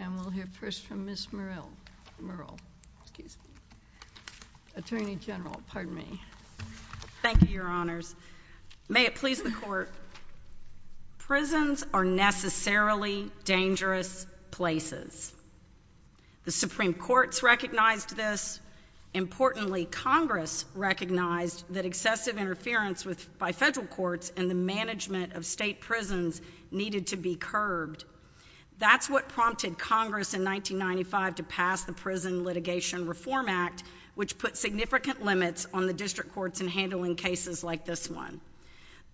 and we'll hear first from Ms. Murrell, Attorney General, pardon me. Thank you, Your Honors. May it please the Court, prisons are necessarily dangerous places. The Supreme Court's recognized this. Importantly, Congress recognized that excessive interference by federal courts and the management of state prisons needed to be curbed. That's what prompted Congress in 1995 to pass the Prison Litigation Reform Act, which put significant limits on the district courts in handling cases like this one.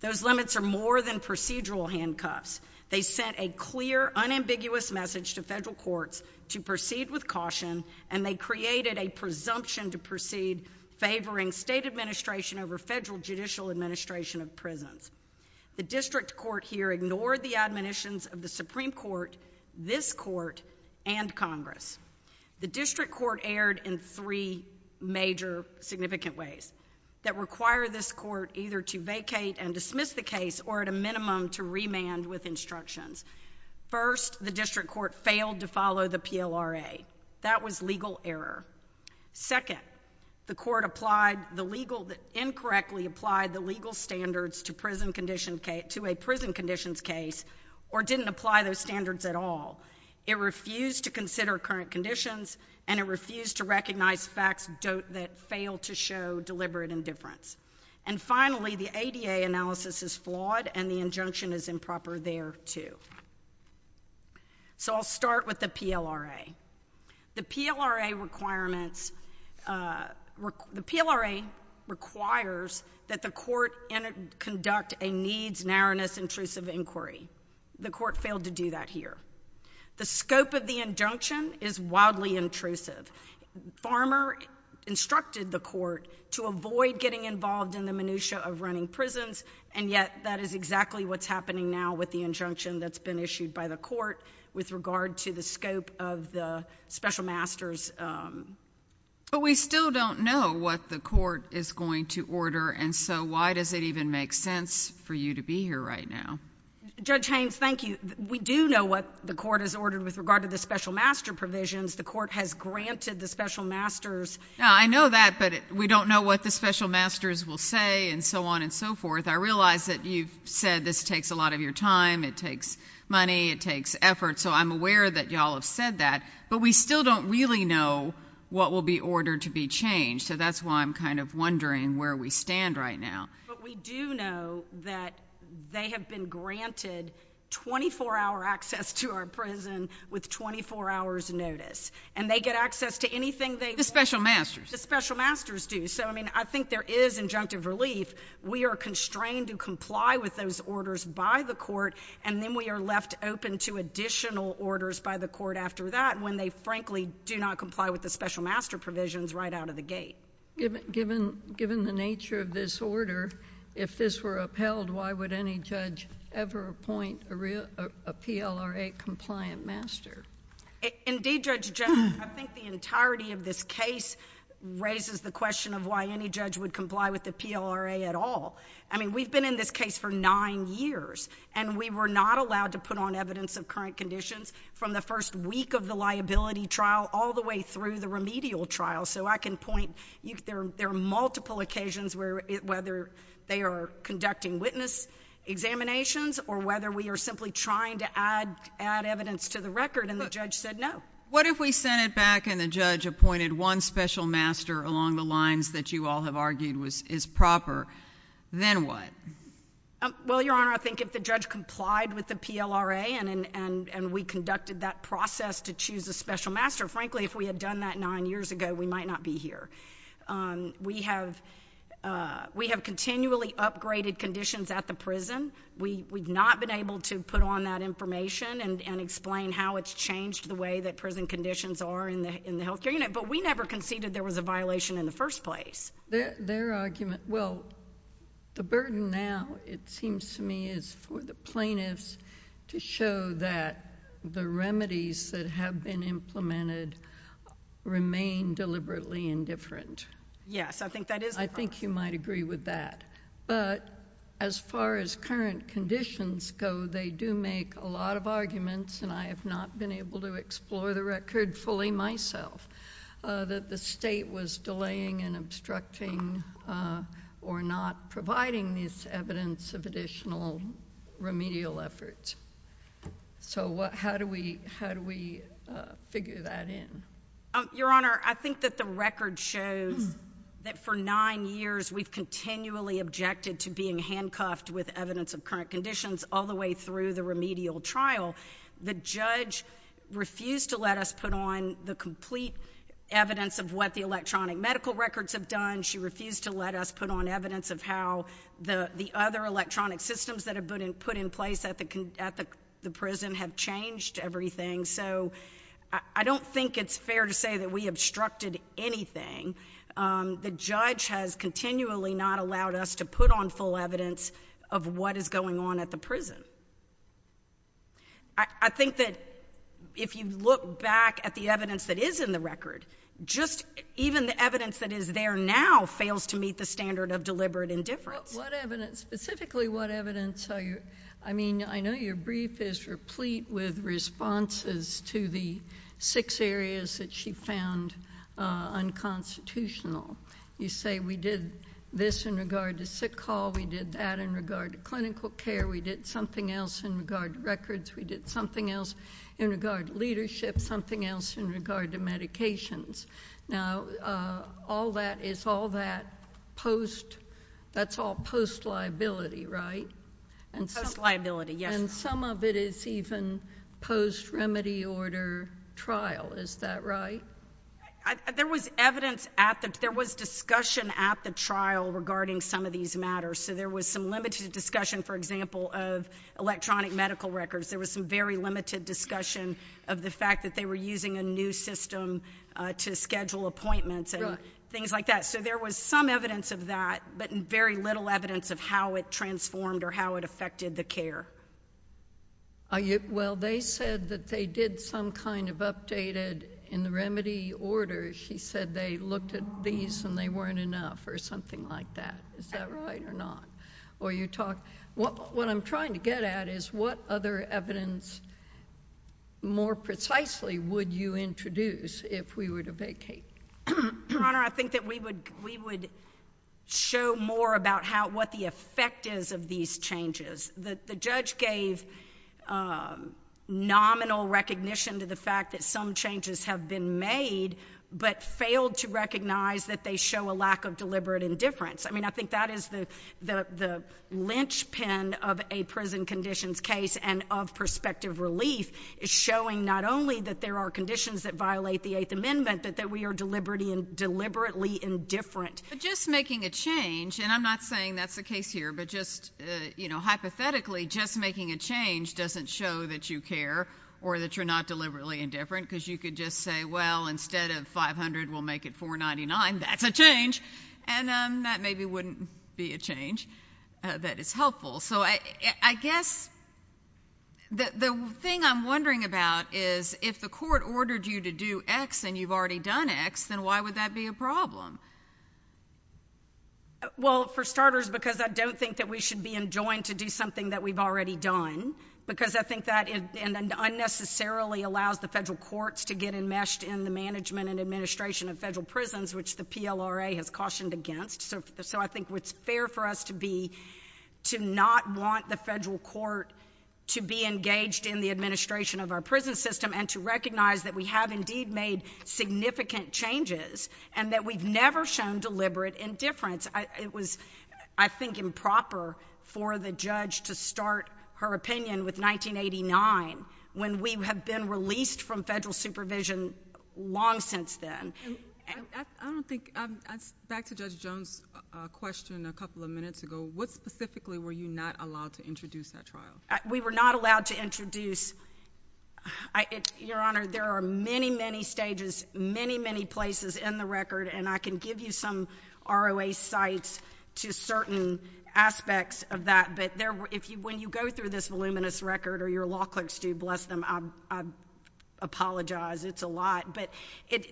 Those limits are more than procedural handcuffs. They sent a clear, unambiguous message to federal courts to proceed with caution and they created a presumption to proceed favoring state administration over federal judicial administration of prisons. The district court here ignored the admonitions of the Supreme Court, this court, and Congress. The district court erred in three major significant ways that require this court either to vacate and dismiss the case or at a minimum to remand with instructions. First, the district court failed to follow the PLRA. That was legal error. Second, the court applied the legal—incorrectly applied the legal standards to a prison conditions case or didn't apply those standards at all. It refused to consider current conditions and it refused to recognize facts that failed to show deliberate indifference. And finally, the ADA analysis is flawed and the injunction is improper there, too. So I'll start with the PLRA. The PLRA requirements—the PLRA requires that the court conduct a needs narrowness intrusive inquiry. The court failed to do that here. The scope of the injunction is wildly intrusive. Farmer instructed the court to avoid getting involved in the minutiae of running prisons and yet that is exactly what's happening now with the injunction that's been issued by the court with regard to the scope of the special master's— But we still don't know what the court is going to order and so why does it even make sense for you to be here right now? Judge Haynes, thank you. We do know what the court has ordered with regard to the special master provisions. The court has granted the special master's— I know that but we don't know what the special master's will say and so on and so forth. I realize that you've said this takes a lot of your time. It takes money. It takes effort. So I'm aware that y'all have said that. But we still don't really know what will be ordered to be changed. So that's why I'm kind of wondering where we stand right now. But we do know that they have been granted 24-hour access to our prison with 24-hours notice and they get access to anything they— The special master's. The special master's do. So I mean I think there is injunctive relief. We are constrained to comply with those orders by the court and then we are left open to additional orders by the court after that when they frankly do not comply with the special master provisions right out of the gate. Given the nature of this order, if this were upheld, why would any judge ever appoint a PLRA-compliant master? Indeed, Judge, I think the entirety of this case raises the question of why any judge would comply with the PLRA at all. I mean we've been in this case for nine years and we were not allowed to put on evidence of current conditions from the first week of There are multiple occasions where whether they are conducting witness examinations or whether we are simply trying to add evidence to the record and the judge said no. What if we sent it back and the judge appointed one special master along the lines that you all have argued is proper, then what? Well, Your Honor, I think if the judge complied with the PLRA and we conducted that process to choose a special master, frankly if we had done that nine years ago, we might not be here. We have continually upgraded conditions at the prison. We have not been able to put on that information and explain how it's changed the way that prison conditions are in the health care unit, but we never conceded there was a violation in the first place. Their argument, well, the burden now it seems to me is for the plaintiffs to show that the Yes. I think that is the problem. I think you might agree with that, but as far as current conditions go, they do make a lot of arguments and I have not been able to explore the record fully myself that the State was delaying and obstructing or not providing this evidence of additional remedial efforts. So how do we figure that in? Your Honor, I think that the record shows that for nine years we have continually objected to being handcuffed with evidence of current conditions all the way through the remedial trial. The judge refused to let us put on the complete evidence of what the electronic medical records have done. She refused to let us put on evidence of how the other electronic systems that are put in place at the prison have changed everything. So I don't think it's fair to say that we obstructed anything. The judge has continually not allowed us to put on full evidence of what is going on at the prison. I think that if you look back at the evidence that is in the record, just even the evidence that is there now fails to meet the standard of deliberate indifference. What evidence, specifically what evidence are you, I mean, I know your brief is replete with responses to the six areas that she found unconstitutional. You say we did this in regard to sick hall, we did that in regard to clinical care, we did something else in regard to records, we did something else in regard to leadership, something else in regard to medications. Now all that is all that post, that's all post liability, right? Post liability, yes. And some of it is even post-remedy order trial, is that right? There was evidence at the, there was discussion at the trial regarding some of these matters. So there was some limited discussion, for example, of electronic medical records, there was some very limited discussion of the fact that they were using a new system to schedule appointments and things like that. So there was some evidence of that, but very little evidence of how it transformed or how it affected the care. Well they said that they did some kind of updated in the remedy order, she said they looked at these and they weren't enough or something like that, is that right or not? Or you talk, what I'm trying to get at is what other evidence more precisely would you introduce if we were to vacate? Your Honor, I think that we would, we would show more about how, what the effect is of these changes. The, the judge gave nominal recognition to the fact that some changes have been made, but failed to recognize that they show a lack of deliberate indifference. I mean, I think that is the, the, the linchpin of a prison conditions case and of prospective relief is showing not only that there are conditions that violate the Eighth Amendment, but that we are deliberately indifferent. Just making a change, and I'm not saying that's the case here, but just, you know, hypothetically just making a change doesn't show that you care or that you're not deliberately indifferent because you could just say, well, instead of 500, we'll make it 499, that's a change. And that maybe wouldn't be a change that is helpful. So I, I guess the, the thing I'm wondering about is if the court ordered you to do X and you've already done X, then why would that be a problem? Well, for starters, because I don't think that we should be enjoined to do something that we've already done, because I think that it unnecessarily allows the federal courts to get enmeshed in the management and administration of federal prisons, which the PLRA has cautioned against. So, so I think what's fair for us to be, to not want the federal court to be engaged in the administration of our prison system and to recognize that we have indeed made significant changes and that we've never shown deliberate indifference. It was, I think, improper for the judge to start her opinion with 1989, when we have been released from federal supervision long since then. And I, I don't think, back to Judge Jones' question a couple of minutes ago, what specifically were you not allowed to introduce at trial? We were not allowed to introduce, Your Honor, there are many, many stages, many, many places in the record, and I can give you some ROA sites to certain aspects of that, but if you, when you go through this voluminous record, or your law clerks do, bless them, I apologize, it's a lot. But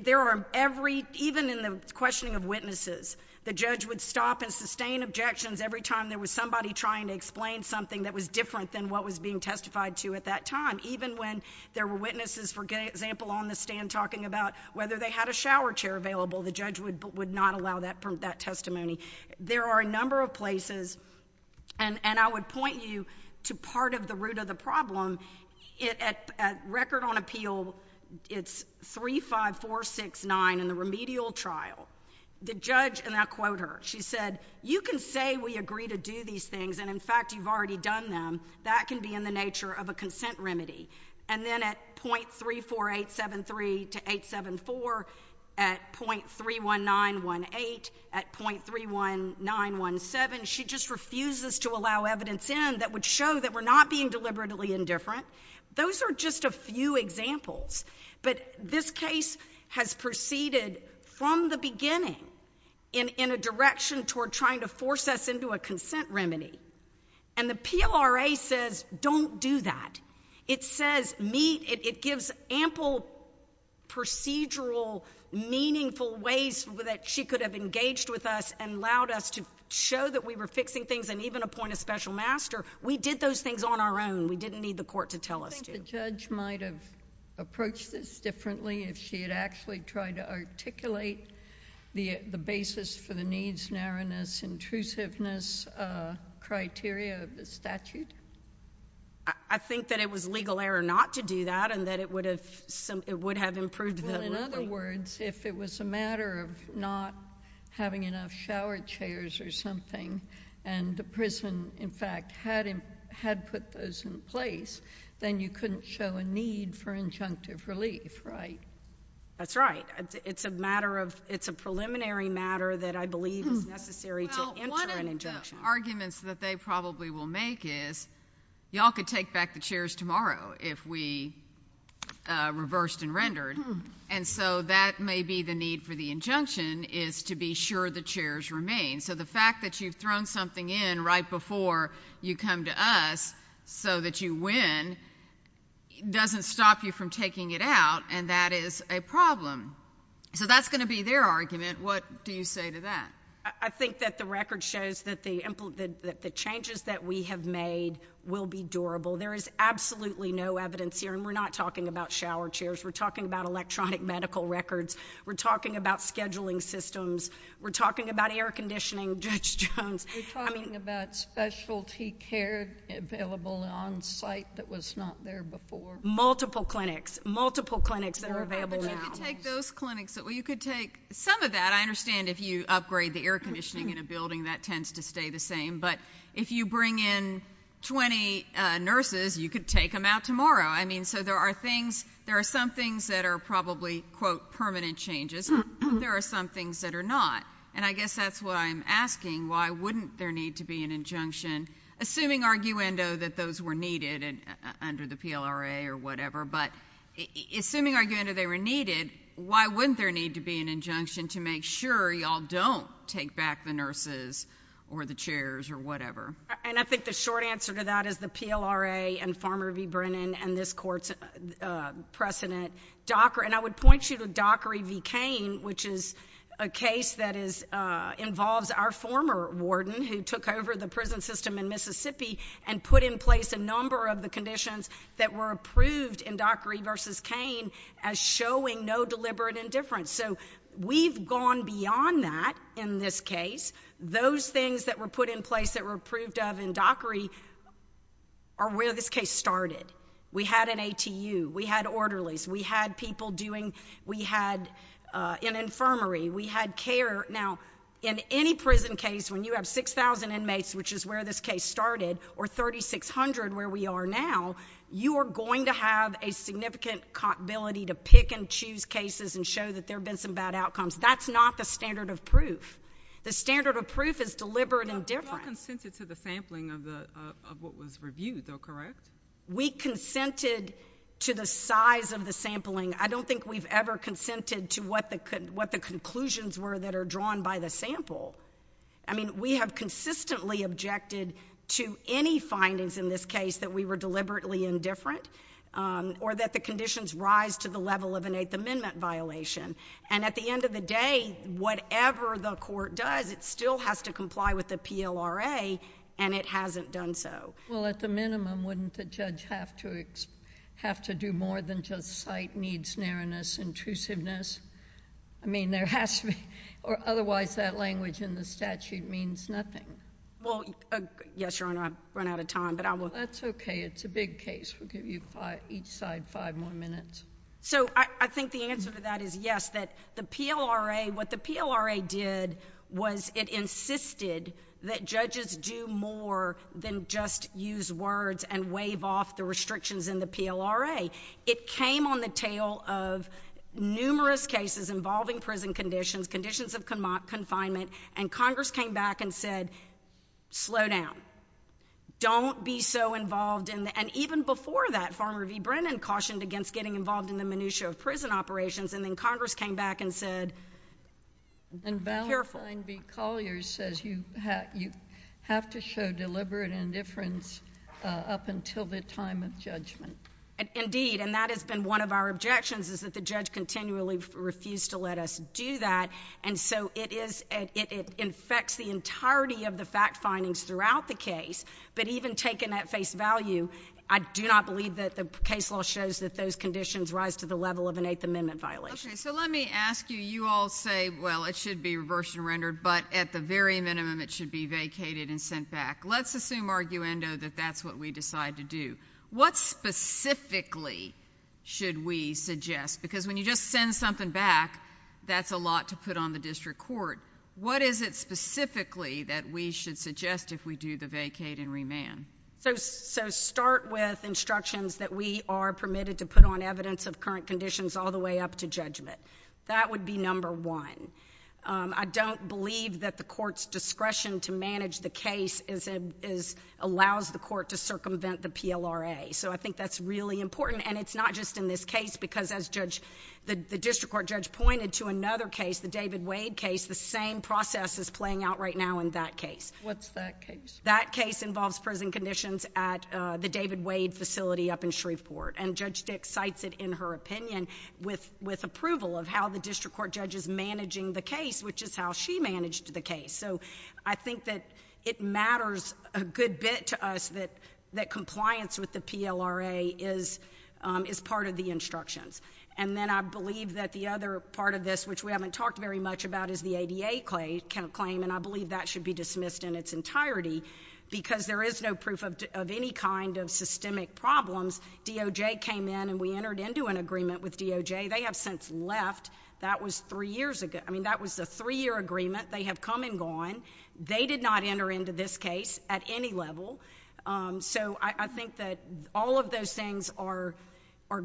there are every, even in the questioning of witnesses, the judge would stop and sustain objections every time there was somebody trying to explain something that was different than what was being testified to at that time. Even when there were witnesses, for example, on the stand talking about whether they had a shower chair available, the judge would, would not allow that, that testimony. There are a number of places, and, and I would point you to part of the root of the problem, it at, at Record on Appeal, it's 35469 in the remedial trial. The judge, and I'll quote her, she said, you can say we agree to do these things, and in that can be in the nature of a consent remedy. And then at .34873 to 874, at .31918, at .31917, she just refuses to allow evidence in that would show that we're not being deliberately indifferent. Those are just a few examples, but this case has proceeded from the beginning in, in a direction toward trying to force us into a consent remedy. And the PLRA says, don't do that. It says, meet, it, it gives ample procedural, meaningful ways that she could have engaged with us and allowed us to show that we were fixing things and even appoint a special master. We did those things on our own. We didn't need the court to tell us to. I think the judge might have approached this differently if she had actually tried to articulate the, the basis for the needs, narrowness, intrusiveness criteria of the statute. I think that it was legal error not to do that and that it would have, it would have improved the ruling. Well, in other words, if it was a matter of not having enough shower chairs or something and the prison, in fact, had, had put those in place, then you couldn't show a need for injunctive relief, right? That's right. It's a matter of, it's a preliminary matter that I believe is necessary to enter an injunction. Well, one of the arguments that they probably will make is, y'all could take back the chairs tomorrow if we reversed and rendered. And so that may be the need for the injunction is to be sure the chairs remain. So the fact that you've thrown something in right before you come to us so that you win doesn't stop you from taking it out and that is a problem. So that's going to be their argument. What do you say to that? I think that the record shows that the, that the changes that we have made will be durable. There is absolutely no evidence here and we're not talking about shower chairs. We're talking about electronic medical records. We're talking about scheduling systems. We're talking about air conditioning, Judge Jones. We're talking about specialty care available on site that was not there before. Multiple clinics, multiple clinics that are available now. But you could take those clinics, well you could take some of that. I understand if you upgrade the air conditioning in a building, that tends to stay the same. But if you bring in 20 nurses, you could take them out tomorrow. I mean, so there are things, there are some things that are probably, quote, permanent changes but there are some things that are not. And I guess that's what I'm asking. Why wouldn't there need to be an injunction, assuming arguendo that those were needed under the PLRA or whatever, but assuming arguendo they were needed, why wouldn't there need to be an injunction to make sure y'all don't take back the nurses or the chairs or whatever? And I think the short answer to that is the PLRA and Farmer v. Brennan and this court's precedent, Dockery, and I would point you to Dockery v. Cain, which is a case that involves our former warden who took over the prison system in Mississippi and put in place a number of the conditions that were approved in Dockery v. Cain as showing no deliberate indifference. So we've gone beyond that in this case. Those things that were put in place that were approved of in Dockery are where this case started. We had an ATU. We had orderlies. We had people doing—we had an infirmary. We had care. Now, in any prison case, when you have 6,000 inmates, which is where this case started, or 3,600 where we are now, you are going to have a significant ability to pick and choose cases and show that there have been some bad outcomes. That's not the standard of proof. The standard of proof is deliberate indifference. You're not consensual to the sampling of what was reviewed, though, correct? We consented to the size of the sampling. I don't think we've ever consented to what the conclusions were that are drawn by the sample. I mean, we have consistently objected to any findings in this case that we were deliberately indifferent or that the conditions rise to the level of an Eighth Amendment violation. And at the end of the day, whatever the court does, it still has to comply with the PLRA, and it hasn't done so. Well, at the minimum, wouldn't the judge have to do more than just cite needs, narrowness, intrusiveness? I mean, there has to be—or otherwise, that language in the statute means nothing. Well, yes, Your Honor, I've run out of time, but I will— That's okay. It's a big case. We'll give you each side five more minutes. So I think the answer to that is yes, that the PLRA—what the PLRA did was it insisted that judges do more than just use words and wave off the restrictions in the PLRA. It came on the tail of numerous cases involving prison conditions, conditions of confinement, and Congress came back and said, slow down. Don't be so involved in—and even before that, Farmer v. Brennan cautioned against getting involved in the minutia of prison operations, and then Congress came back and said, be careful. And then Stein v. Collier says you have to show deliberate indifference up until the time of judgment. Indeed, and that has been one of our objections, is that the judge continually refused to let us do that, and so it is—it infects the entirety of the fact findings throughout the case, but even taken at face value, I do not believe that the case law shows that those conditions rise to the level of an Eighth Amendment violation. So let me ask you, you all say, well, it should be reversed and rendered, but at the very minimum it should be vacated and sent back. Let's assume, arguendo, that that's what we decide to do. What specifically should we suggest? Because when you just send something back, that's a lot to put on the district court. What is it specifically that we should suggest if we do the vacate and remand? So start with instructions that we are permitted to put on evidence of current conditions all the way up to judgment. That would be number one. I don't believe that the court's discretion to manage the case is—allows the court to circumvent the PLRA. So I think that's really important, and it's not just in this case, because as the district court judge pointed to another case, the David Wade case, the same process is playing out right now in that case. What's that case? That case involves prison conditions at the David Wade facility up in Shreveport, and with approval of how the district court judge is managing the case, which is how she managed the case. So I think that it matters a good bit to us that compliance with the PLRA is part of the instructions. And then I believe that the other part of this, which we haven't talked very much about, is the ADA claim, and I believe that should be dismissed in its entirety, because there is no proof of any kind of systemic problems. DOJ came in, and we entered into an agreement with DOJ. They have since left. That was three years ago. I mean, that was a three-year agreement. They have come and gone. They did not enter into this case at any level. So I think that all of those things are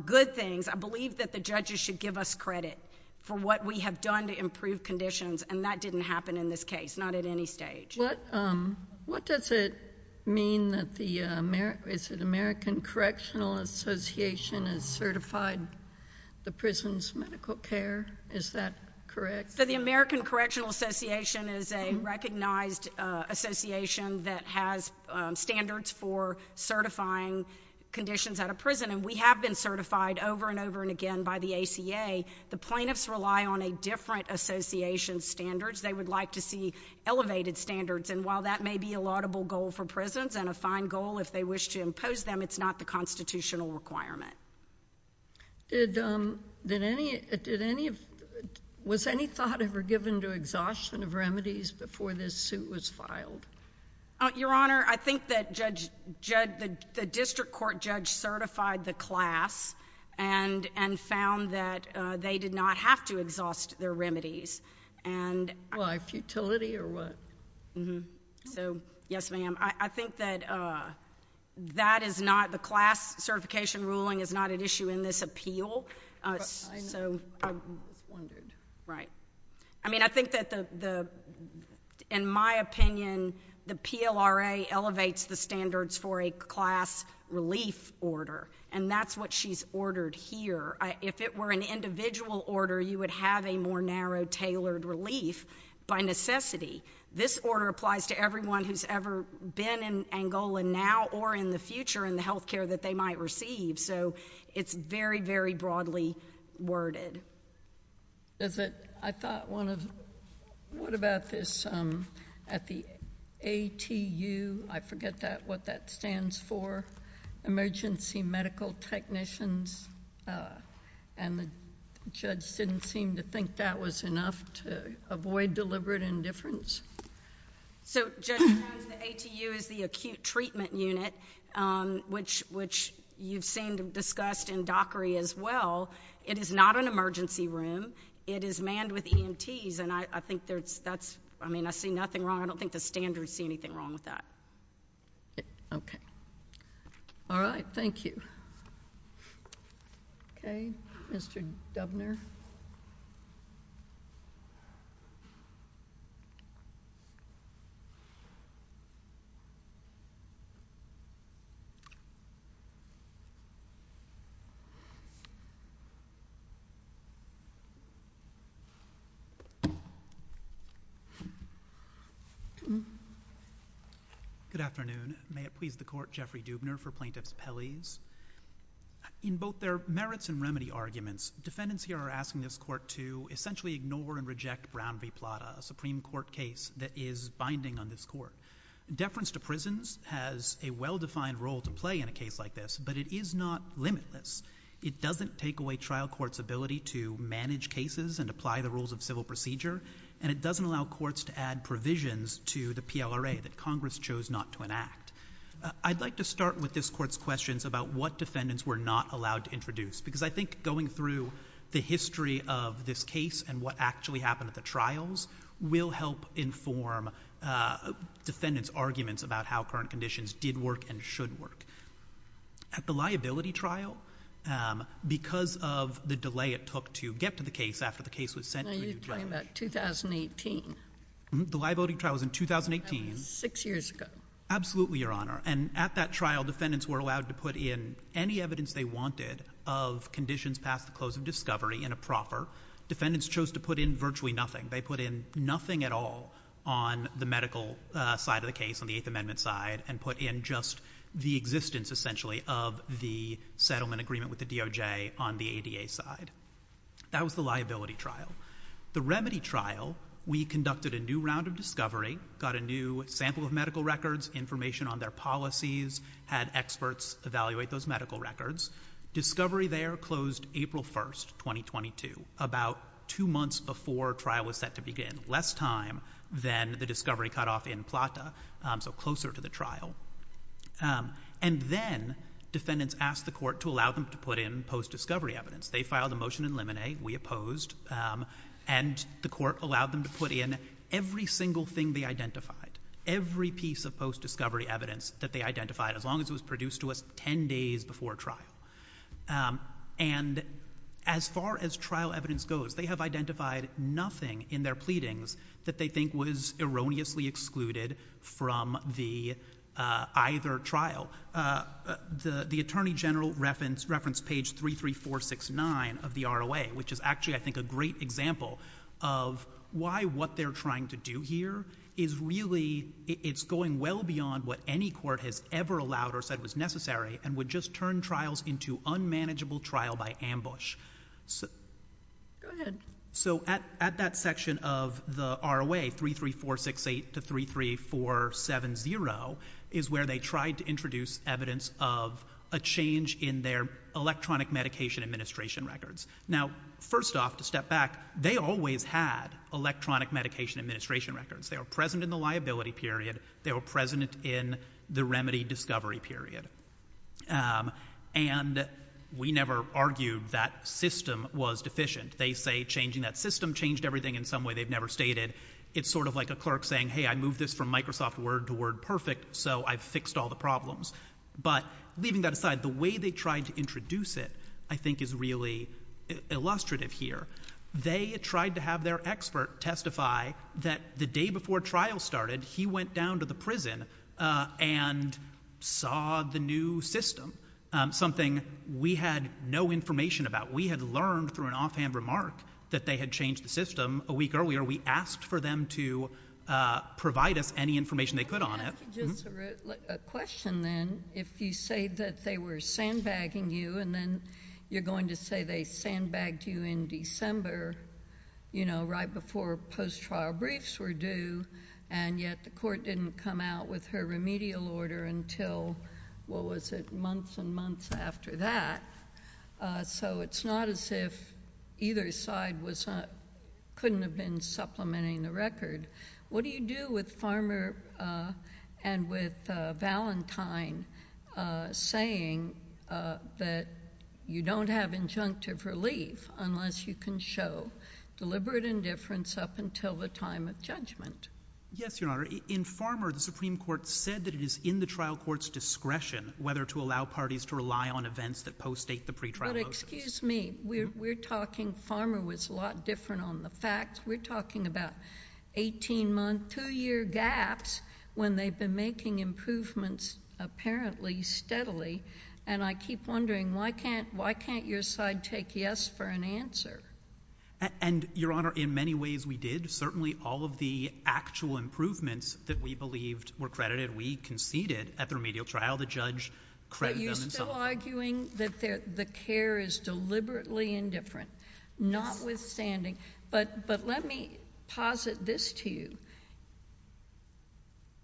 good things. I believe that the judges should give us credit for what we have done to improve conditions, and that didn't happen in this case, not at any stage. What does it mean that the American Correctional Association is certified the prison's medical care? Is that correct? So the American Correctional Association is a recognized association that has standards for certifying conditions at a prison, and we have been certified over and over and again by the ACA. The plaintiffs rely on a different association's standards. They would like to see elevated standards, and while that may be a laudable goal for prisons and a fine goal if they wish to impose them, it's not the constitutional requirement. Was any thought ever given to exhaustion of remedies before this suit was filed? Your Honor, I think that the district court judge certified the class and found that they did not have to exhaust their remedies, and... Why? Futility, or what? Yes, ma'am. I think that that is not... the class certification ruling is not an issue in this appeal, so... I know, but I'm just wondering. Right. I mean, I think that the... in my opinion, the PLRA elevates the standards for a class relief order, and that's what she's ordered here. If it were an individual order, you would have a more narrow, tailored relief by necessity. This order applies to everyone who's ever been in Angola now or in the future in the health care that they might receive, so it's very, very broadly worded. Is it... I thought one of... what about this at the ATU? I forget what that stands for. Emergency medical technicians, and the judge didn't seem to think that was enough to avoid deliberate indifference. So, Judge Jones, the ATU is the acute treatment unit, which you've seen discussed in Dockery as well. It is not an emergency room. It is manned with EMTs, and I think there's... that's... I mean, I see nothing wrong. I don't think the standards see anything wrong with that. Okay. All right. Thank you. Okay. Mr. Dubner? Good afternoon. May it please the Court, Jeffrey Dubner for Plaintiffs' Peleys. In both their merits and remedy arguments, defendants here are asking this Court to essentially ignore and reject Brown v. Plata, a Supreme Court case that is binding on this Court. Deference to prisons has a well-defined role to play in a case like this, but it is not limitless. It doesn't take away trial courts' ability to manage cases and apply the rules of civil procedure, and it doesn't allow courts to add provisions to the PLRA that Congress chose not to enact. I'd like to start with this Court's questions about what defendants were not allowed to introduce, because I think going through the history of this case and what actually happened at the trials will help inform defendants' arguments about how current conditions did work and should work. At the liability trial, because of the delay it took to get to the case after the case was sent... Now, you're talking about 2018. Mm-hmm. The liability trial was in 2018. That was six years ago. Mm-hmm. Absolutely, Your Honor. And at that trial, defendants were allowed to put in any evidence they wanted of conditions past the close of discovery in a proffer. Defendants chose to put in virtually nothing. They put in nothing at all on the medical side of the case, on the Eighth Amendment side, and put in just the existence, essentially, of the settlement agreement with the DOJ on the ADA side. That was the liability trial. The remedy trial, we conducted a new round of discovery, got a new sample of medical records, information on their policies, had experts evaluate those medical records. Discovery there closed April 1st, 2022, about two months before trial was set to begin, less time than the discovery cutoff in Plata, so closer to the trial. And then defendants asked the court to allow them to put in post-discovery evidence. They filed a motion in limine. We opposed, and the court allowed them to put in every single thing they identified, every piece of post-discovery evidence that they identified, as long as it was produced to us 10 days before trial. And as far as trial evidence goes, they have identified nothing in their pleadings that they think was erroneously excluded from either trial. Now, the Attorney General referenced page 33469 of the ROA, which is actually, I think, a great example of why what they're trying to do here is really, it's going well beyond what any court has ever allowed or said was necessary, and would just turn trials into unmanageable trial by ambush. Go ahead. So at that section of the ROA, 33468 to 33470, is where they tried to introduce evidence of a change in their electronic medication administration records. Now, first off, to step back, they always had electronic medication administration records. They were present in the liability period. They were present in the remedy discovery period. And we never argued that system was deficient. They say changing that system changed everything in some way they've never stated. It's sort of like a clerk saying, hey, I moved this from Microsoft Word to Word Perfect, so I've fixed all the problems. But leaving that aside, the way they tried to introduce it, I think, is really illustrative here. They tried to have their expert testify that the day before trial started, he went down to the prison and saw the new system, something we had no information about. We had learned through an offhand remark that they had changed the system a week earlier. We asked for them to provide us any information they could on it. I have just a question, then. If you say that they were sandbagging you, and then you're going to say they sandbagged you in December, you know, right before post-trial briefs were due, and yet the court didn't come out with her remedial order until, what was it, months and months after that, so it's not as if either side couldn't have been supplementing the record, what do you do with Farmer and with Valentine saying that you don't have injunctive relief unless you can show deliberate indifference up until the time of judgment? Yes, Your Honor. In Farmer, the Supreme Court said that it is in the trial court's discretion whether to allow parties to rely on events that post-date the pre-trial motions. But excuse me. We're talking, Farmer was a lot different on the facts. We're talking about 18-month, two-year gaps when they've been making improvements, apparently, steadily, and I keep wondering why can't your side take yes for an answer? And Your Honor, in many ways we did. Certainly all of the actual improvements that we believed were credited, we conceded at the remedial trial. The judge credited them in some way. But you're still arguing that the care is deliberately indifferent, notwithstanding. But let me posit this to you.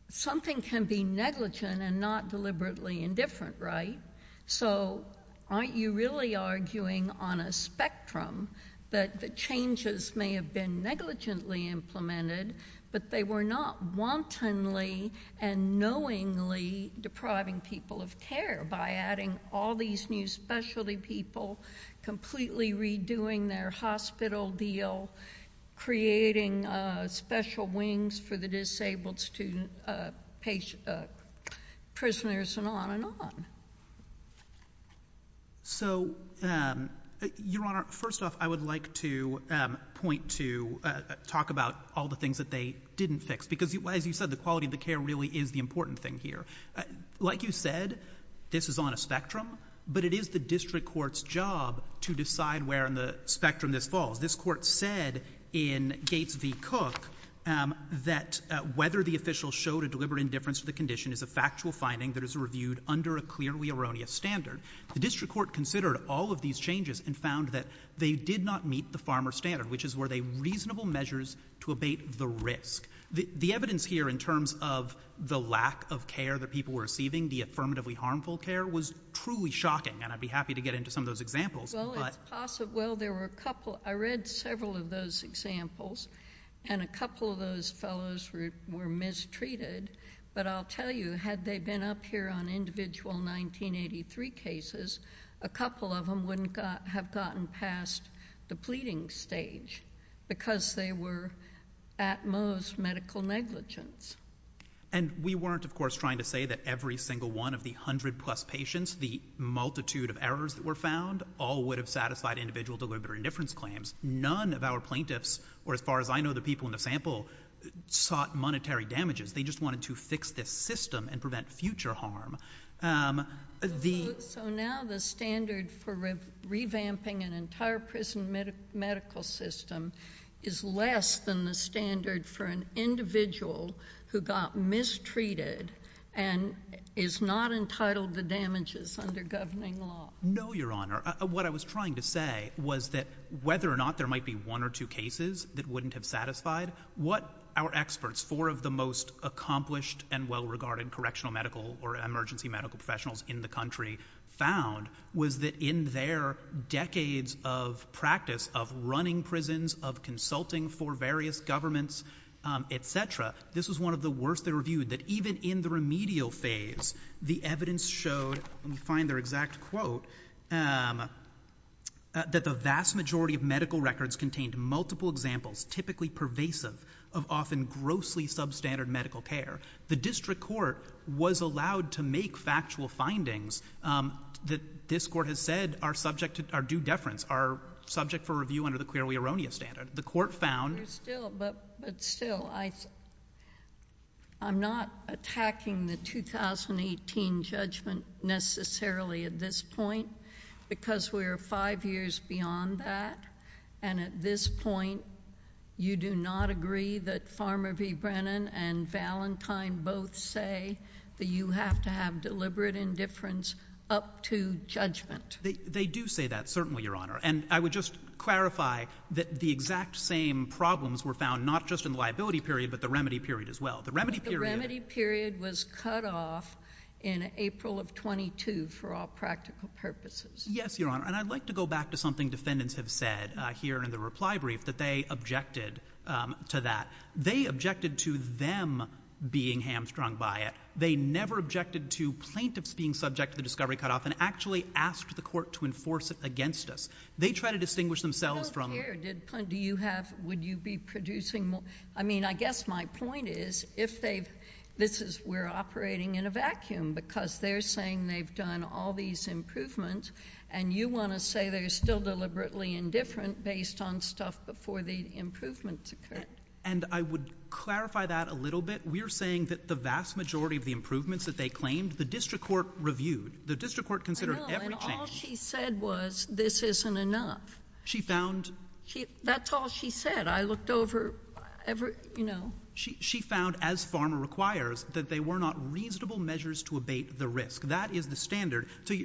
Something can be negligent and not deliberately indifferent, right? So aren't you really arguing on a spectrum that the changes may have been negligently implemented but they were not wantonly and knowingly depriving people of care by adding all these new specialty people, completely redoing their hospital deal, creating special wings for the disabled prisoners, and on and on? So Your Honor, first off, I would like to point to, talk about all the things that they didn't fix. Because as you said, the quality of the care really is the important thing here. Like you said, this is on a spectrum. But it is the district court's job to decide where on the spectrum this falls. This court said in Gates v. Cook that whether the official showed a deliberate indifference to the condition is a factual finding that is reviewed under a clearly erroneous standard. The district court considered all of these changes and found that they did not meet the farmer standard, which is were they reasonable measures to abate the risk. The evidence here in terms of the lack of care that people were receiving, the affirmatively harmful care, was truly shocking. And I'd be happy to get into some of those examples. Well, it's possible. Well, there were a couple. I read several of those examples. And a couple of those fellows were mistreated. But I'll tell you, had they been up here on individual 1983 cases, a couple of them wouldn't have gotten past the pleading stage because they were at most medical negligence. And we weren't, of course, trying to say that every single one of the 100 plus patients, the multitude of errors that were found, all would have satisfied individual deliberate indifference claims. None of our plaintiffs, or as far as I know the people in the sample, sought monetary damages. They just wanted to fix this system and prevent future harm. So now the standard for revamping an entire prison medical system is less than the standard for an individual who got mistreated and is not entitled to damages under governing law? No, Your Honor. What I was trying to say was that whether or not there might be one or two cases that wouldn't have satisfied, what our experts, four of the most accomplished and well-regarded correctional medical or emergency medical professionals in the country, found was that in their decades of practice of running prisons, of consulting for various governments, etc., this was one of the worst they reviewed. That even in the remedial phase, the evidence showed, and we find their exact quote, that the vast majority of medical records contained multiple examples, typically pervasive, of often grossly substandard medical care. The district court was allowed to make factual findings that this court has said are subject to, are due deference, are subject for review under the queer-we-erroneous standard. The court found... You're still, but still, I'm not attacking the 2018 judgment necessarily at this point because we're five years beyond that, and at this point you do not agree that Farmer v. Brennan and Valentine both say that you have to have deliberate indifference up to judgment. They do say that, certainly, Your Honor, and I would just clarify that the exact same problems were found not just in the liability period, but the remedy period as well. The remedy period... The remedy period was cut off in April of 22 for all practical purposes. Yes, Your Honor, and I'd like to go back to something defendants have said here in the reply brief, that they objected to that. They objected to them being hamstrung by it. They never objected to plaintiffs being subject to the discovery cutoff and actually asked the court to enforce it against us. They try to distinguish themselves from... I don't care. Do you have... Would you be producing more... I mean, I guess my point is, if they've... This is... We're operating in a vacuum because they're saying they've done all these improvements, and you want to say they're still deliberately indifferent based on stuff before the improvements occurred. And I would clarify that a little bit. We're saying that the vast majority of the improvements that they claimed, the district court reviewed. The district court considered every change. I know, and all she said was, this isn't enough. She found... That's all she said. I looked over every, you know... She found, as PhRMA requires, that they were not reasonable measures to abate the risk. That is the standard. To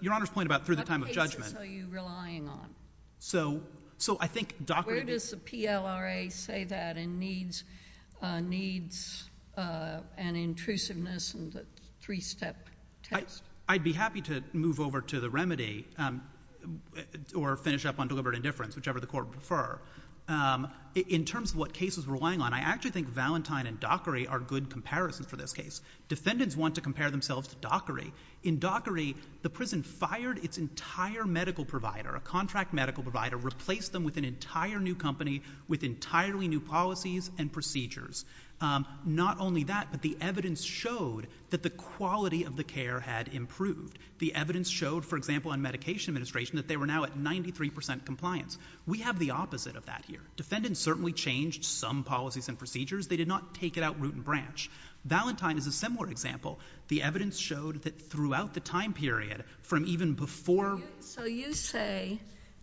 Your Honor's point about through the time of judgment... What cases are you relying on? So I think... Does the LRA say that in needs and intrusiveness and the three-step test? I'd be happy to move over to the remedy or finish up on deliberate indifference, whichever the court would prefer. In terms of what cases we're relying on, I actually think Valentine and Dockery are good comparisons for this case. Defendants want to compare themselves to Dockery. In Dockery, the prison fired its entire medical provider, a contract medical provider, replaced them with an entire new company with entirely new policies and procedures. Not only that, but the evidence showed that the quality of the care had improved. The evidence showed, for example, in Medication Administration, that they were now at 93 percent compliance. We have the opposite of that here. Defendants certainly changed some policies and procedures. They did not take it out root and branch. Valentine is a similar example. The evidence showed that throughout the time period, from even before... So you say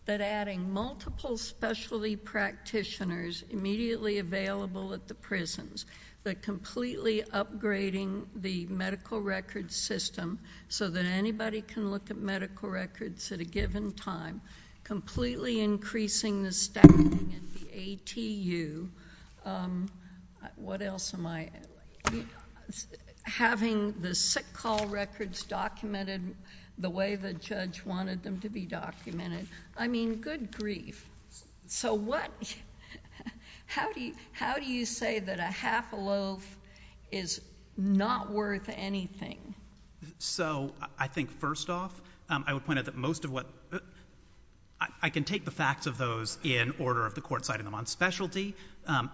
that adding multiple specialty practitioners immediately available at the prisons, that completely upgrading the medical records system so that anybody can look at medical records at a given time, completely increasing the staffing at the ATU... What else am I... Having the sick call records documented the way the judge wanted them to be documented. I mean, good grief. So what... How do you say that a half a loaf is not worth anything? So I think, first off, I would point out that most of what... I can take the facts of those in order of the court citing them on specialty.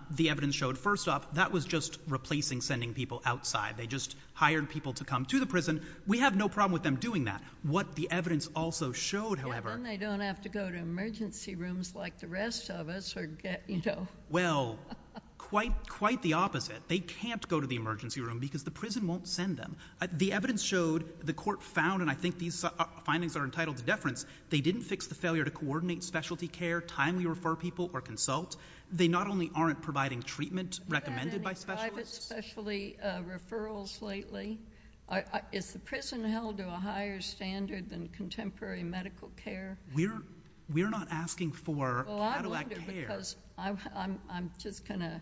The evidence showed, first off, that was just replacing sending people outside. They just hired people to come to the prison. We have no problem with them doing that. What the evidence also showed, however... Then they don't have to go to emergency rooms like the rest of us or get... Well, quite the opposite. They can't go to the emergency room because the prison won't send them. The evidence showed, the court found, and I think these findings are entitled to deference, they didn't fix the failure to coordinate specialty care, timely refer people, or consult. They not only aren't providing treatment recommended by specialists... Specialty referrals lately... Is the prison held to a higher standard than contemporary medical care? We're not asking for... Well, I wonder because I'm just going to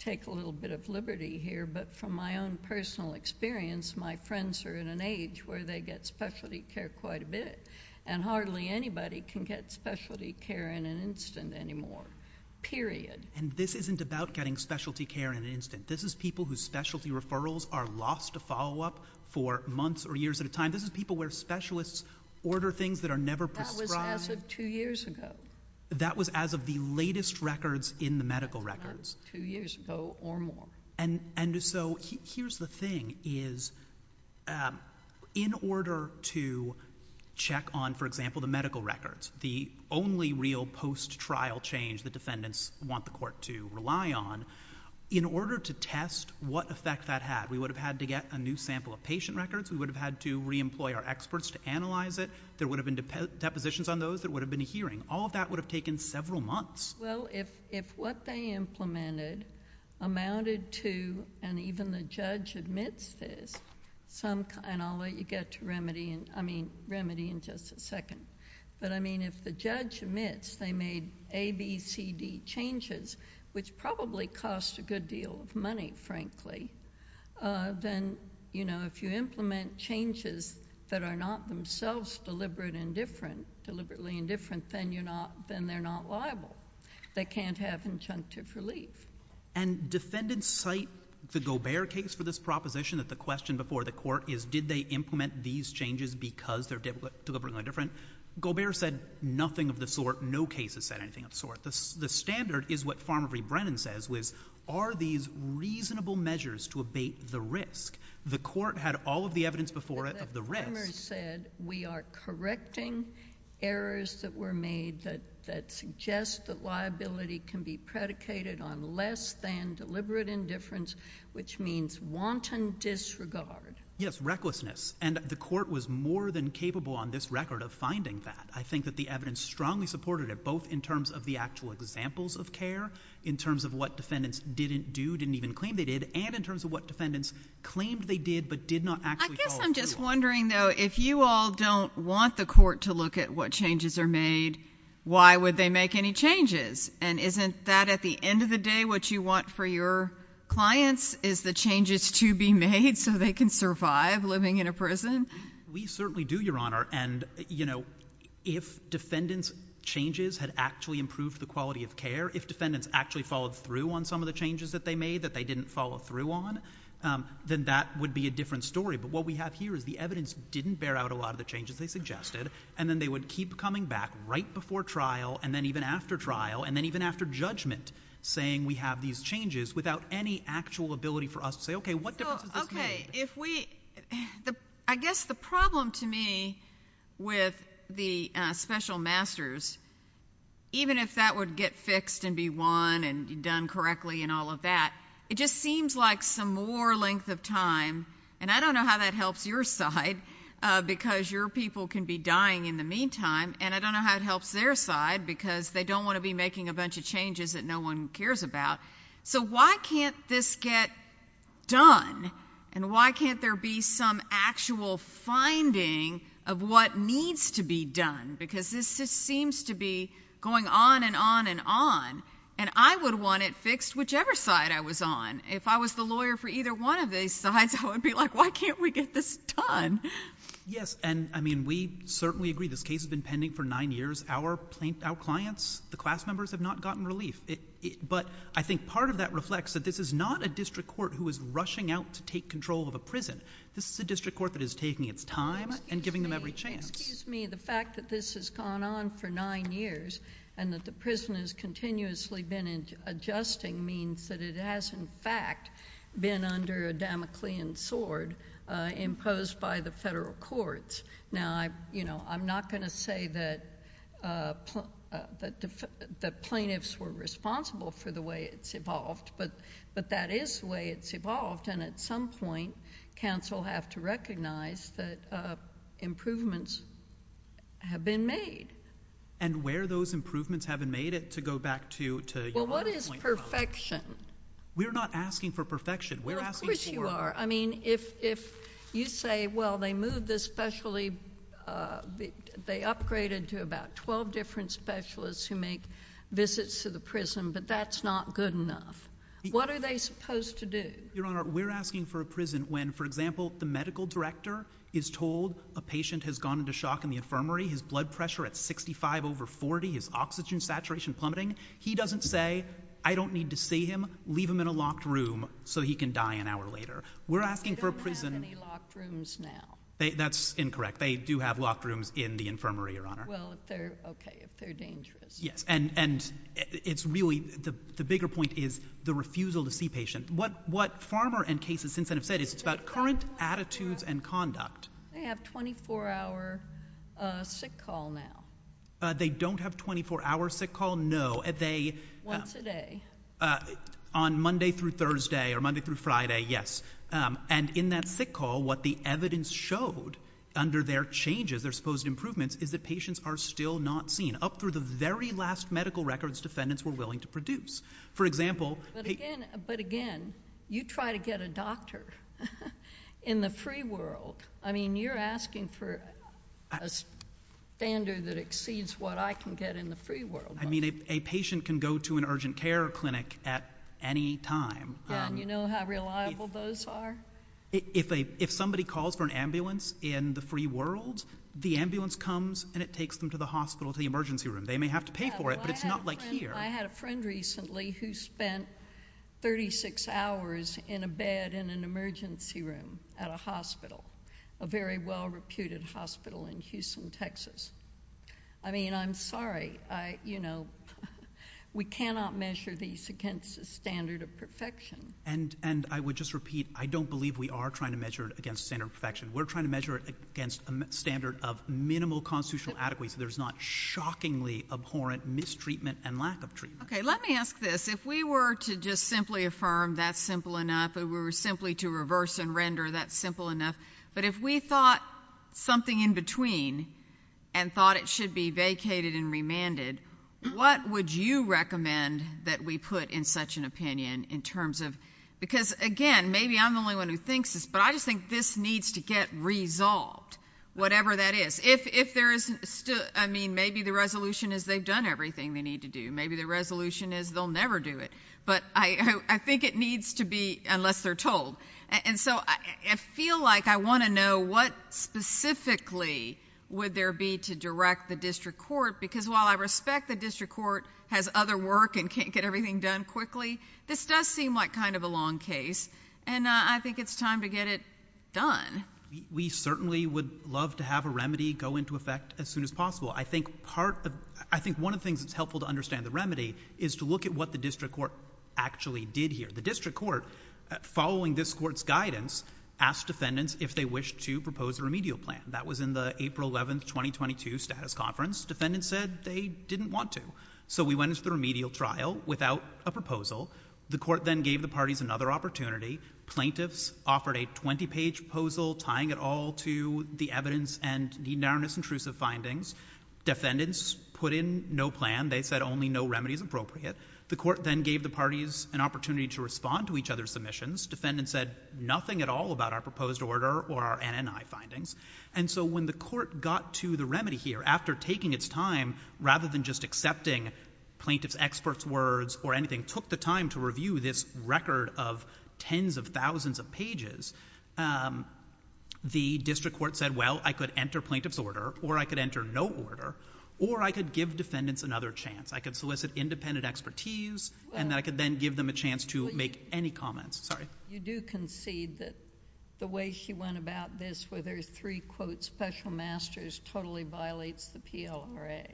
take a little bit of liberty here, but from my own personal experience, my friends are in an age where they get specialty care quite a bit, and hardly anybody can get specialty care in an instant anymore, period. And this isn't about getting specialty care in an instant. This is people whose specialty referrals are lost to follow-up for months or years at a time. This is people where specialists order things that are never prescribed... That was as of two years ago. That was as of the latest records in the medical records. Two years ago or more. And so, here's the thing is, in order to check on, for example, the medical records, the only real post-trial change the defendants want the court to rely on, in order to test what effect that had, we would have had to get a new sample of patient records, we would have had to re-employ our experts to analyze it, there would have been depositions on those, there would have been a hearing. All of that would have taken several months. Well, if what they implemented amounted to, and even the judge admits this, some kind... and I'll let you get to remedy in just a second. But, I mean, if the judge admits they made A, B, C, D changes, which probably cost a good deal of money, frankly, then, you know, if you implement changes that are not themselves deliberately indifferent, then they're not liable. They can't have injunctive relief. And defendants cite the Gobert case for this proposition that the question before the court is, did they implement these changes because they're deliberately indifferent? Gobert said nothing of the sort. No case has said anything of the sort. The standard is what Farmer v. Brennan says, which is, are these reasonable measures to abate the risk? The court had all of the evidence before it of the risk... But the farmers said, we are correcting errors that were made that suggest that liability can be predicated on less than deliberate indifference, which means wanton disregard. Yes. Recklessness. And the court was more than capable on this record of finding that. I think that the evidence strongly supported it, both in terms of the actual examples of care, in terms of what defendants didn't do, didn't even claim they did, and in terms of what defendants claimed they did, but did not actually do. I guess I'm just wondering, though, if you all don't want the court to look at what changes are made, why would they make any changes? And isn't that, at the end of the day, what you want for your clients is the changes to be made so they can survive living in a prison? We certainly do, Your Honor, and, you know, if defendants' changes had actually improved the quality of care, if defendants actually followed through on some of the changes that they made that they didn't follow through on, then that would be a different story. But what we have here is the evidence didn't bear out a lot of the changes they suggested, and then they would keep coming back right before trial, and then even after trial, and then even after judgment, saying we have these changes without any actual ability for us to follow through. So, okay, what difference does this make? Okay. I guess the problem to me with the special masters, even if that would get fixed and be won and done correctly and all of that, it just seems like some more length of time, and I don't know how that helps your side, because your people can be dying in the meantime, and I don't know how it helps their side, because they don't want to be making a bunch of changes that no one cares about. So why can't this get done, and why can't there be some actual finding of what needs to be done? Because this just seems to be going on and on and on, and I would want it fixed whichever side I was on. If I was the lawyer for either one of these sides, I would be like, why can't we get this done? Yes. And, I mean, we certainly agree this case has been pending for nine years. Our clients, the class members, have not gotten relief. But I think part of that reflects that this is not a district court who is rushing out to take control of a prison. This is a district court that is taking its time and giving them every chance. Excuse me. The fact that this has gone on for nine years and that the prison has continuously been adjusting means that it has, in fact, been under a Damoclean sword imposed by the federal courts. Now, you know, I'm not going to say that the plaintiffs were responsible for the way it's evolved, but that is the way it's evolved, and at some point, counsel have to recognize that improvements have been made. And where those improvements have been made, to go back to your other point. Well, what is perfection? We're not asking for perfection. Of course you are. I mean, if you say, well, they moved this specialty, they upgraded to about 12 different specialists who make visits to the prison, but that's not good enough. What are they supposed to do? Your Honor, we're asking for a prison when, for example, the medical director is told a patient has gone into shock in the infirmary, his blood pressure at 65 over 40, his oxygen saturation plummeting, he doesn't say, I don't need to see him, leave him in a locked room so he can die an hour later. We're asking for a prison. They don't have any locked rooms now. That's incorrect. They do have locked rooms in the infirmary, Your Honor. Well, if they're, okay, if they're dangerous. Yes. And it's really, the bigger point is the refusal to see patients. What Farmer and cases since then have said is it's about current attitudes and conduct. They have 24-hour sick call now. They don't have 24-hour sick call, no. Once a day. On Monday through Thursday or Monday through Friday, yes. And in that sick call, what the evidence showed under their changes, their supposed improvements, is that patients are still not seen. Up through the very last medical records defendants were willing to produce. For example, But again, you try to get a doctor in the free world. I mean, you're asking for a standard that exceeds what I can get in the free world. I mean, a patient can go to an urgent care clinic at any time. Yeah, and you know how reliable those are? If somebody calls for an ambulance in the free world, the ambulance comes and it takes them to the hospital, to the emergency room. They may have to pay for it, but it's not like here. I had a friend recently who spent 36 hours in a bed in an emergency room at a hospital, a very well-reputed hospital in Houston, Texas. I mean, I'm sorry. We cannot measure these against a standard of perfection. And I would just repeat, I don't believe we are trying to measure it against a standard of perfection. We're trying to measure it against a standard of minimal constitutional adequacy. There's not shockingly abhorrent mistreatment and lack of treatment. Okay, let me ask this. If we were to just simply affirm that's simple enough, if we were simply to reverse and render that's simple enough. But if we thought something in between and thought it should be vacated and remanded, what would you recommend that we put in such an opinion in terms of, because again, maybe I'm the only one who thinks this, but I just think this needs to get resolved, whatever that is. If there is still, I mean, maybe the resolution is they've done everything they need to do. Maybe the resolution is they'll never do it. But I think it needs to be, unless they're told. And so, I feel like I want to know what specifically would there be to direct the district court. Because while I respect the district court has other work and can't get everything done quickly, this does seem like kind of a long case. And I think it's time to get it done. We certainly would love to have a remedy go into effect as soon as possible. I think part, I think one of the things that's helpful to understand the remedy is to look at what the district court actually did here. The district court, following this court's guidance, asked defendants if they wished to propose a remedial plan. That was in the April 11th, 2022, status conference. Defendants said they didn't want to. So we went into the remedial trial without a proposal. The court then gave the parties another opportunity. Plaintiffs offered a 20-page proposal tying it all to the evidence and neednarrowness intrusive findings. Defendants put in no plan. They said only no remedy is appropriate. The court then gave the parties an opportunity to respond to each other's submissions. Defendants said nothing at all about our proposed order or our NNI findings. And so when the court got to the remedy here, after taking its time, rather than just accepting plaintiff's, expert's words or anything, took the time to review this record of tens of thousands of pages, the district court said, well, I could enter plaintiff's order or I could enter no order or I could give defendants another chance. I could solicit independent expertise and then I could then give them a chance to make any comments. Sorry. You do concede that the way she went about this with her three quotes, special masters totally violates the PLRA.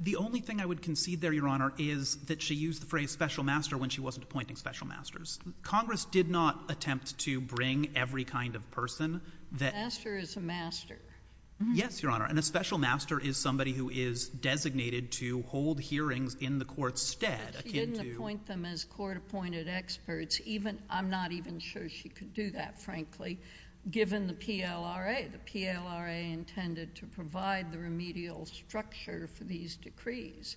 The only thing I would concede there, Your Honor, is that she used the phrase special master when she wasn't appointing special masters. Congress did not attempt to bring every kind of person that. Master is a master. Yes, Your Honor. And a special master is somebody who is designated to hold hearings in the court's stead. But she didn't appoint them as court-appointed experts. I'm not even sure she could do that, frankly, given the PLRA. The PLRA intended to provide the remedial structure for these decrees.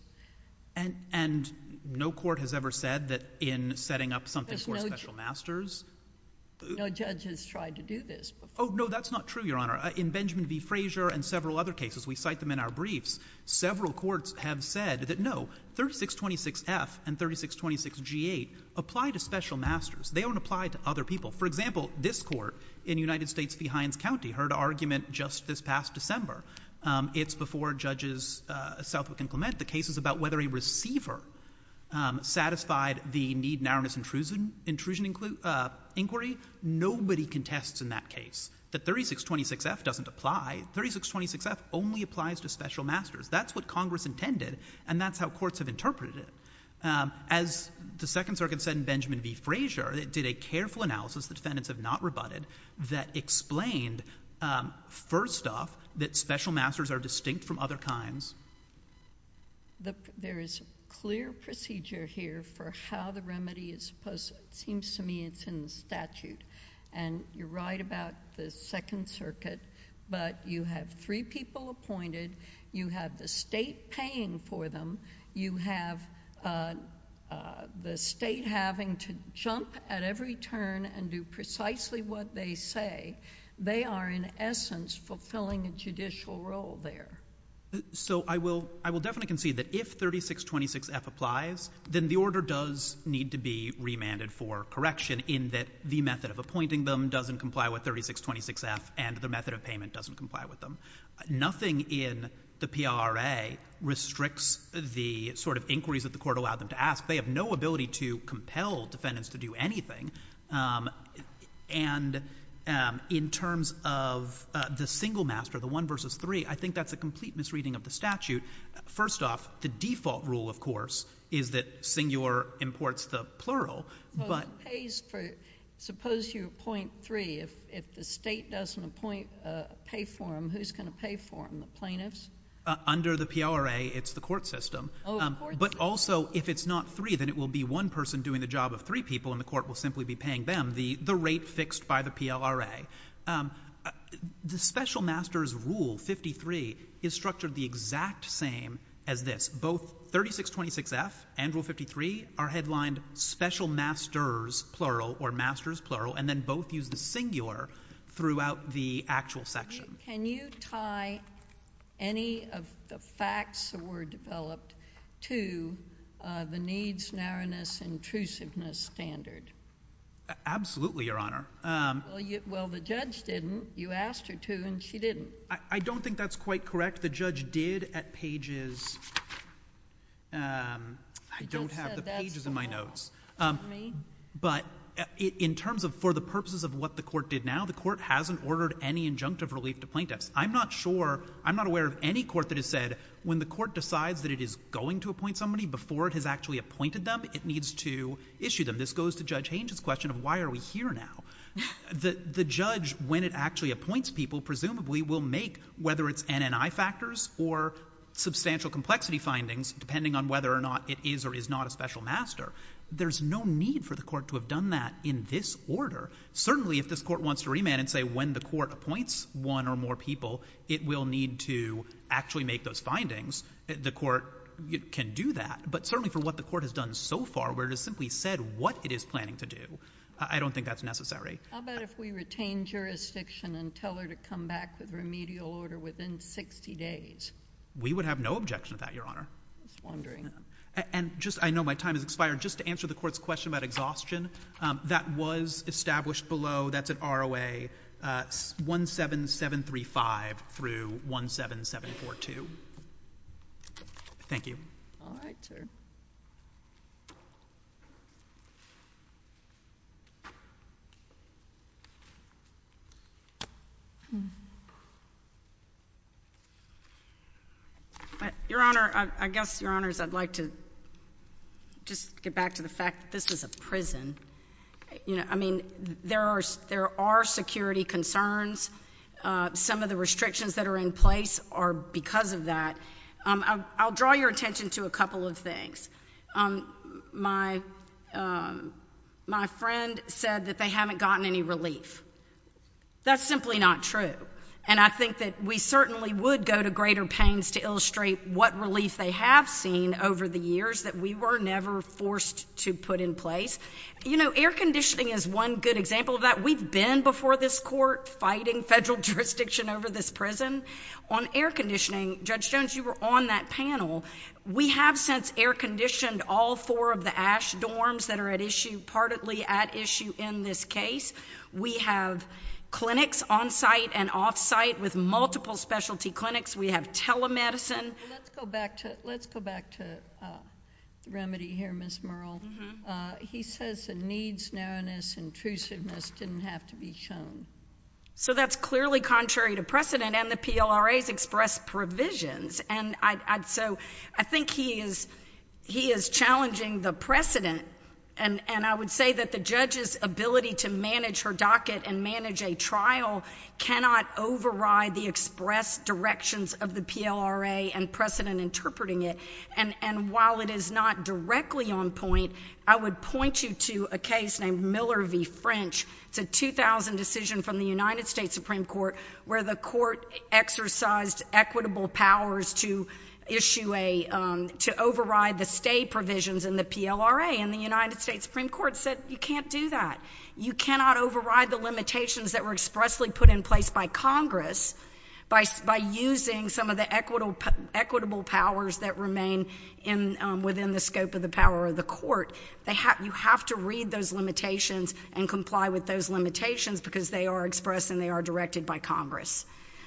And no court has ever said that in setting up something for special masters. No judge has tried to do this before. Oh, no, that's not true, Your Honor. In Benjamin v. Frazier and several other cases, we cite them in our briefs, several courts have said that no, 3626F and 3626G8 apply to special masters. They don't apply to other people. For example, this court in United States v. Hines County heard an argument just this past December. It's before Judges Southwick and Clement. The case is about whether a receiver satisfied the need-narrowness intrusion inquiry. Nobody contests in that case that 3626F doesn't apply. 3626F only applies to special masters. That's what Congress intended, and that's how courts have interpreted it. As the Second Circuit said in Benjamin v. Frazier, it did a careful analysis the defendants have not rebutted that explained, first off, that special masters are distinct from other kinds. There is a clear procedure here for how the remedy is supposed... it seems to me it's in the statute, and you're right about the Second Circuit, but you have three people appointed. You have the state paying for them. You have the state having to jump at every turn and do precisely what they say. They are, in essence, fulfilling a judicial role there. So I will definitely concede that if 3626F applies, then the order does need to be remanded for correction in that the method of appointing them doesn't comply with 3626F and the method of payment doesn't comply with them. Nothing in the PRA restricts the sort of inquiries that the court allowed them to ask. They have no ability to compel defendants to do anything, and in terms of the single master, the one versus three, I think that's a complete misreading of the statute. First off, the default rule, of course, is that senior imports the plural, but... But it pays for... suppose you appoint three. If the state doesn't pay for them, who's going to pay for them, the plaintiffs? Under the PRA, it's the court system. But also, if it's not three, then it will be one person doing the job of three people and the court will simply be paying them the rate fixed by the PLRA. The special master's rule, 53, is structured the exact same as this. Both 3626F and rule 53 are headlined special master's plural or master's plural, and then both use the singular throughout the actual section. Can you tie any of the facts that were developed to the needs, narrowness, intrusiveness standard? Absolutely, Your Honor. Well, the judge didn't. You asked her to and she didn't. I don't think that's quite correct. The judge did at pages... I don't have the pages in my notes. But in terms of, for the purposes of what the court did now, the court hasn't ordered any injunctive relief to plaintiffs. I'm not sure, I'm not aware of any court that has said, when the court decides that it is going to appoint somebody before it has actually appointed them, it needs to issue them. This goes to Judge Hange's question of why are we here now? The judge, when it actually appoints people, presumably will make, whether it's NNI factors or substantial complexity findings, depending on whether or not it is or is not a special master, there's no need for the court to have done that in this order. Certainly if this court wants to remand and say, when the court appoints one or more people, it will need to actually make those findings, the court can do that. But certainly for what the court has done so far, where it has simply said what it is planning to do, I don't think that's necessary. How about if we retain jurisdiction and tell her to come back with remedial order within 60 days? We would have no objection to that, Your Honor. And just, I know my time has expired, just to answer the court's question about exhaustion, that was established below, that's at ROA 17735 through 17742. Thank you. All right, sir. Your Honor, I guess, Your Honors, I'd like to just get back to the fact that this is a prison. You know, I mean, there are security concerns. Some of the restrictions that are in place are because of that. I'll draw your attention to a couple of things. My friend said that they haven't gotten any relief. That's simply not true. And I think that we certainly would go to greater pains to illustrate what relief they have seen over the years that we were never forced to put in place. You know, air conditioning is one good example of that. We've been before this court fighting federal jurisdiction over this prison. On air conditioning, Judge Jones, you were on that panel. We have since air conditioned all four of the ash dorms that are at issue, partly at issue in this case. We have clinics on-site and off-site with multiple specialty clinics. We have telemedicine. Let's go back to remedy here, Ms. Merle. He says the needs, narrowness, intrusiveness didn't have to be shown. So that's clearly contrary to precedent, and the PLRA's expressed provisions. And so I think he is challenging the precedent. And I would say that the judge's ability to manage her docket and manage a trial cannot override the expressed directions of the PLRA and precedent interpreting it. And while it is not directly on point, I would point you to a case named Miller v. French. It's a 2000 decision from the United States Supreme Court where the court exercised equitable powers to issue a, to override the stay provisions in the PLRA, and the United States Supreme Court said you can't do that. You cannot override the limitations that were expressly put in place by Congress by using some of the equitable powers that remain within the scope of the power of the court. You have to read those limitations and comply with those limitations because they are expressed and they are directed by Congress.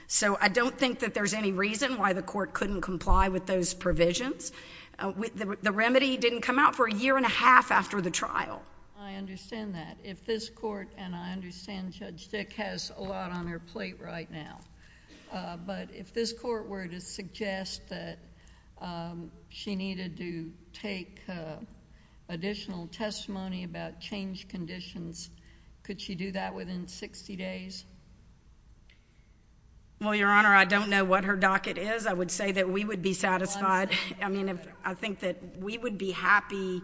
So I don't think that there's any reason why the court couldn't comply with those provisions. The remedy didn't come out for a year and a half after the trial. I understand that. If this court, and I understand Judge Dick has a lot on her plate right now, but if this court had an additional testimony about change conditions, could she do that within 60 days? Well, Your Honor, I don't know what her docket is. I would say that we would be satisfied, I mean, I think that we would be happy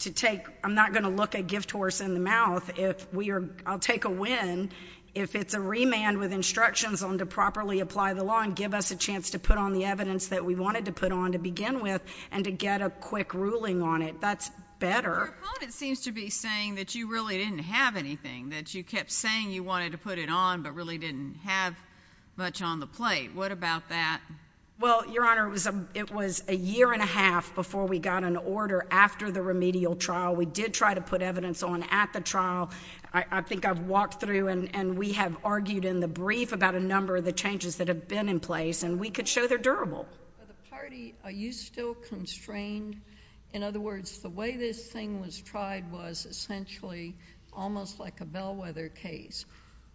to take, I'm not going to look a gift horse in the mouth, if we are, I'll take a win, if it's a remand with instructions on to properly apply the law and give us a chance to put on the evidence that we wanted to put on to begin with and to get a quick ruling on it. That's better. Your opponent seems to be saying that you really didn't have anything, that you kept saying you wanted to put it on but really didn't have much on the plate. What about that? Well, Your Honor, it was a year and a half before we got an order after the remedial trial. We did try to put evidence on at the trial. I think I've walked through and we have argued in the brief about a number of the changes that have been in place and we could show they're durable. For the party, are you still constrained? In other words, the way this thing was tried was essentially almost like a bellwether case,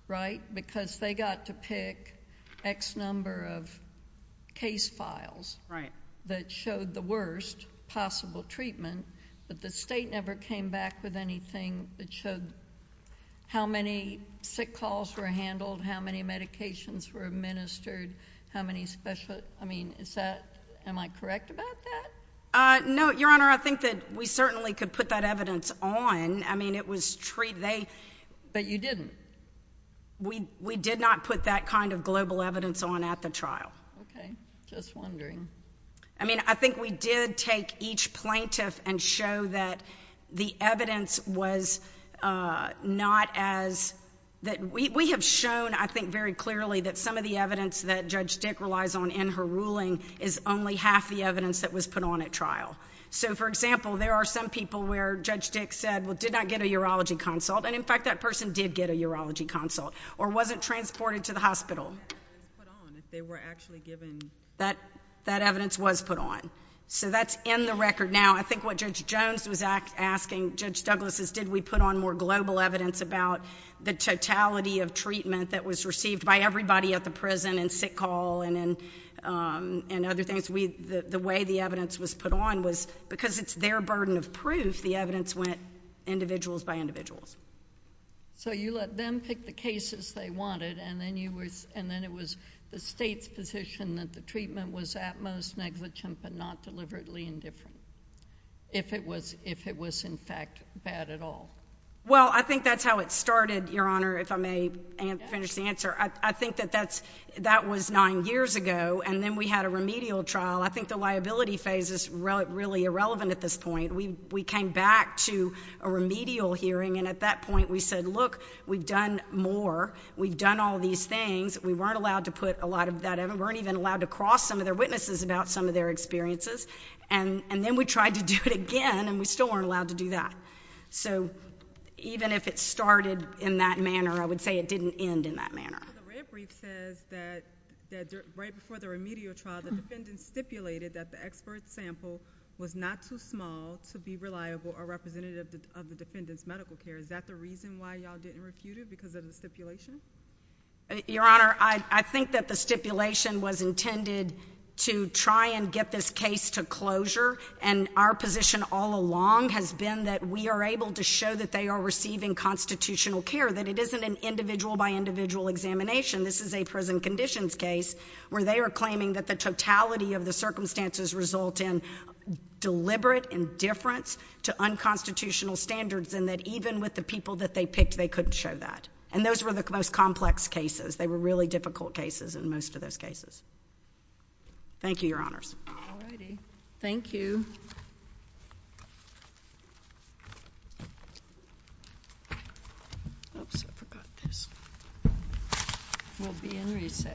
right? Because they got to pick X number of case files that showed the worst possible treatment but the state never came back with anything that showed how many sick calls were handled, how many medications were administered, how many special—I mean, is that—am I correct about that? No, Your Honor. I think that we certainly could put that evidence on. I mean, it was treated— But you didn't. We did not put that kind of global evidence on at the trial. Okay. Just wondering. I mean, I think we did take each plaintiff and show that the evidence was not as—that we have shown, I think, very clearly that some of the evidence that Judge Dick relies on in her ruling is only half the evidence that was put on at trial. So, for example, there are some people where Judge Dick said, well, did not get a urology consult and, in fact, that person did get a urology consult or wasn't transported to the hospital. They were put on if they were actually given— That evidence was put on. So that's in the record. Now, I think what Judge Jones was asking Judge Douglas is did we put on more global evidence about the totality of treatment that was received by everybody at the prison and sick hall and other things. The way the evidence was put on was, because it's their burden of proof, the evidence went individuals by individuals. So you let them pick the cases they wanted, and then it was the state's position that the treatment was at most negligent but not deliberately indifferent, if it was, in fact, bad at all. Well, I think that's how it started, Your Honor, if I may finish the answer. I think that that was nine years ago, and then we had a remedial trial. I think the liability phase is really irrelevant at this point. We came back to a remedial hearing, and at that point we said, look, we've done more. We've done all these things. We weren't allowed to put a lot of that—we weren't even allowed to cross some of their witnesses about some of their experiences. And then we tried to do it again, and we still weren't allowed to do that. So even if it started in that manner, I would say it didn't end in that manner. The red brief says that right before the remedial trial, the defendant stipulated that the expert sample was not too small to be reliable or representative of the defendant's medical care. Is that the reason why y'all didn't refute it, because of the stipulation? Your Honor, I think that the stipulation was intended to try and get this case to closure, and our position all along has been that we are able to show that they are receiving constitutional care, that it isn't an individual-by-individual examination. This is a prison conditions case where they are claiming that the totality of the circumstances result in deliberate indifference to unconstitutional standards, and that even with the people that they picked, they couldn't show that. And those were the most complex cases. They were really difficult cases in most of those cases. Thank you, Your Honors. All righty. Thank you. Oops, I forgot this. We'll be in recess.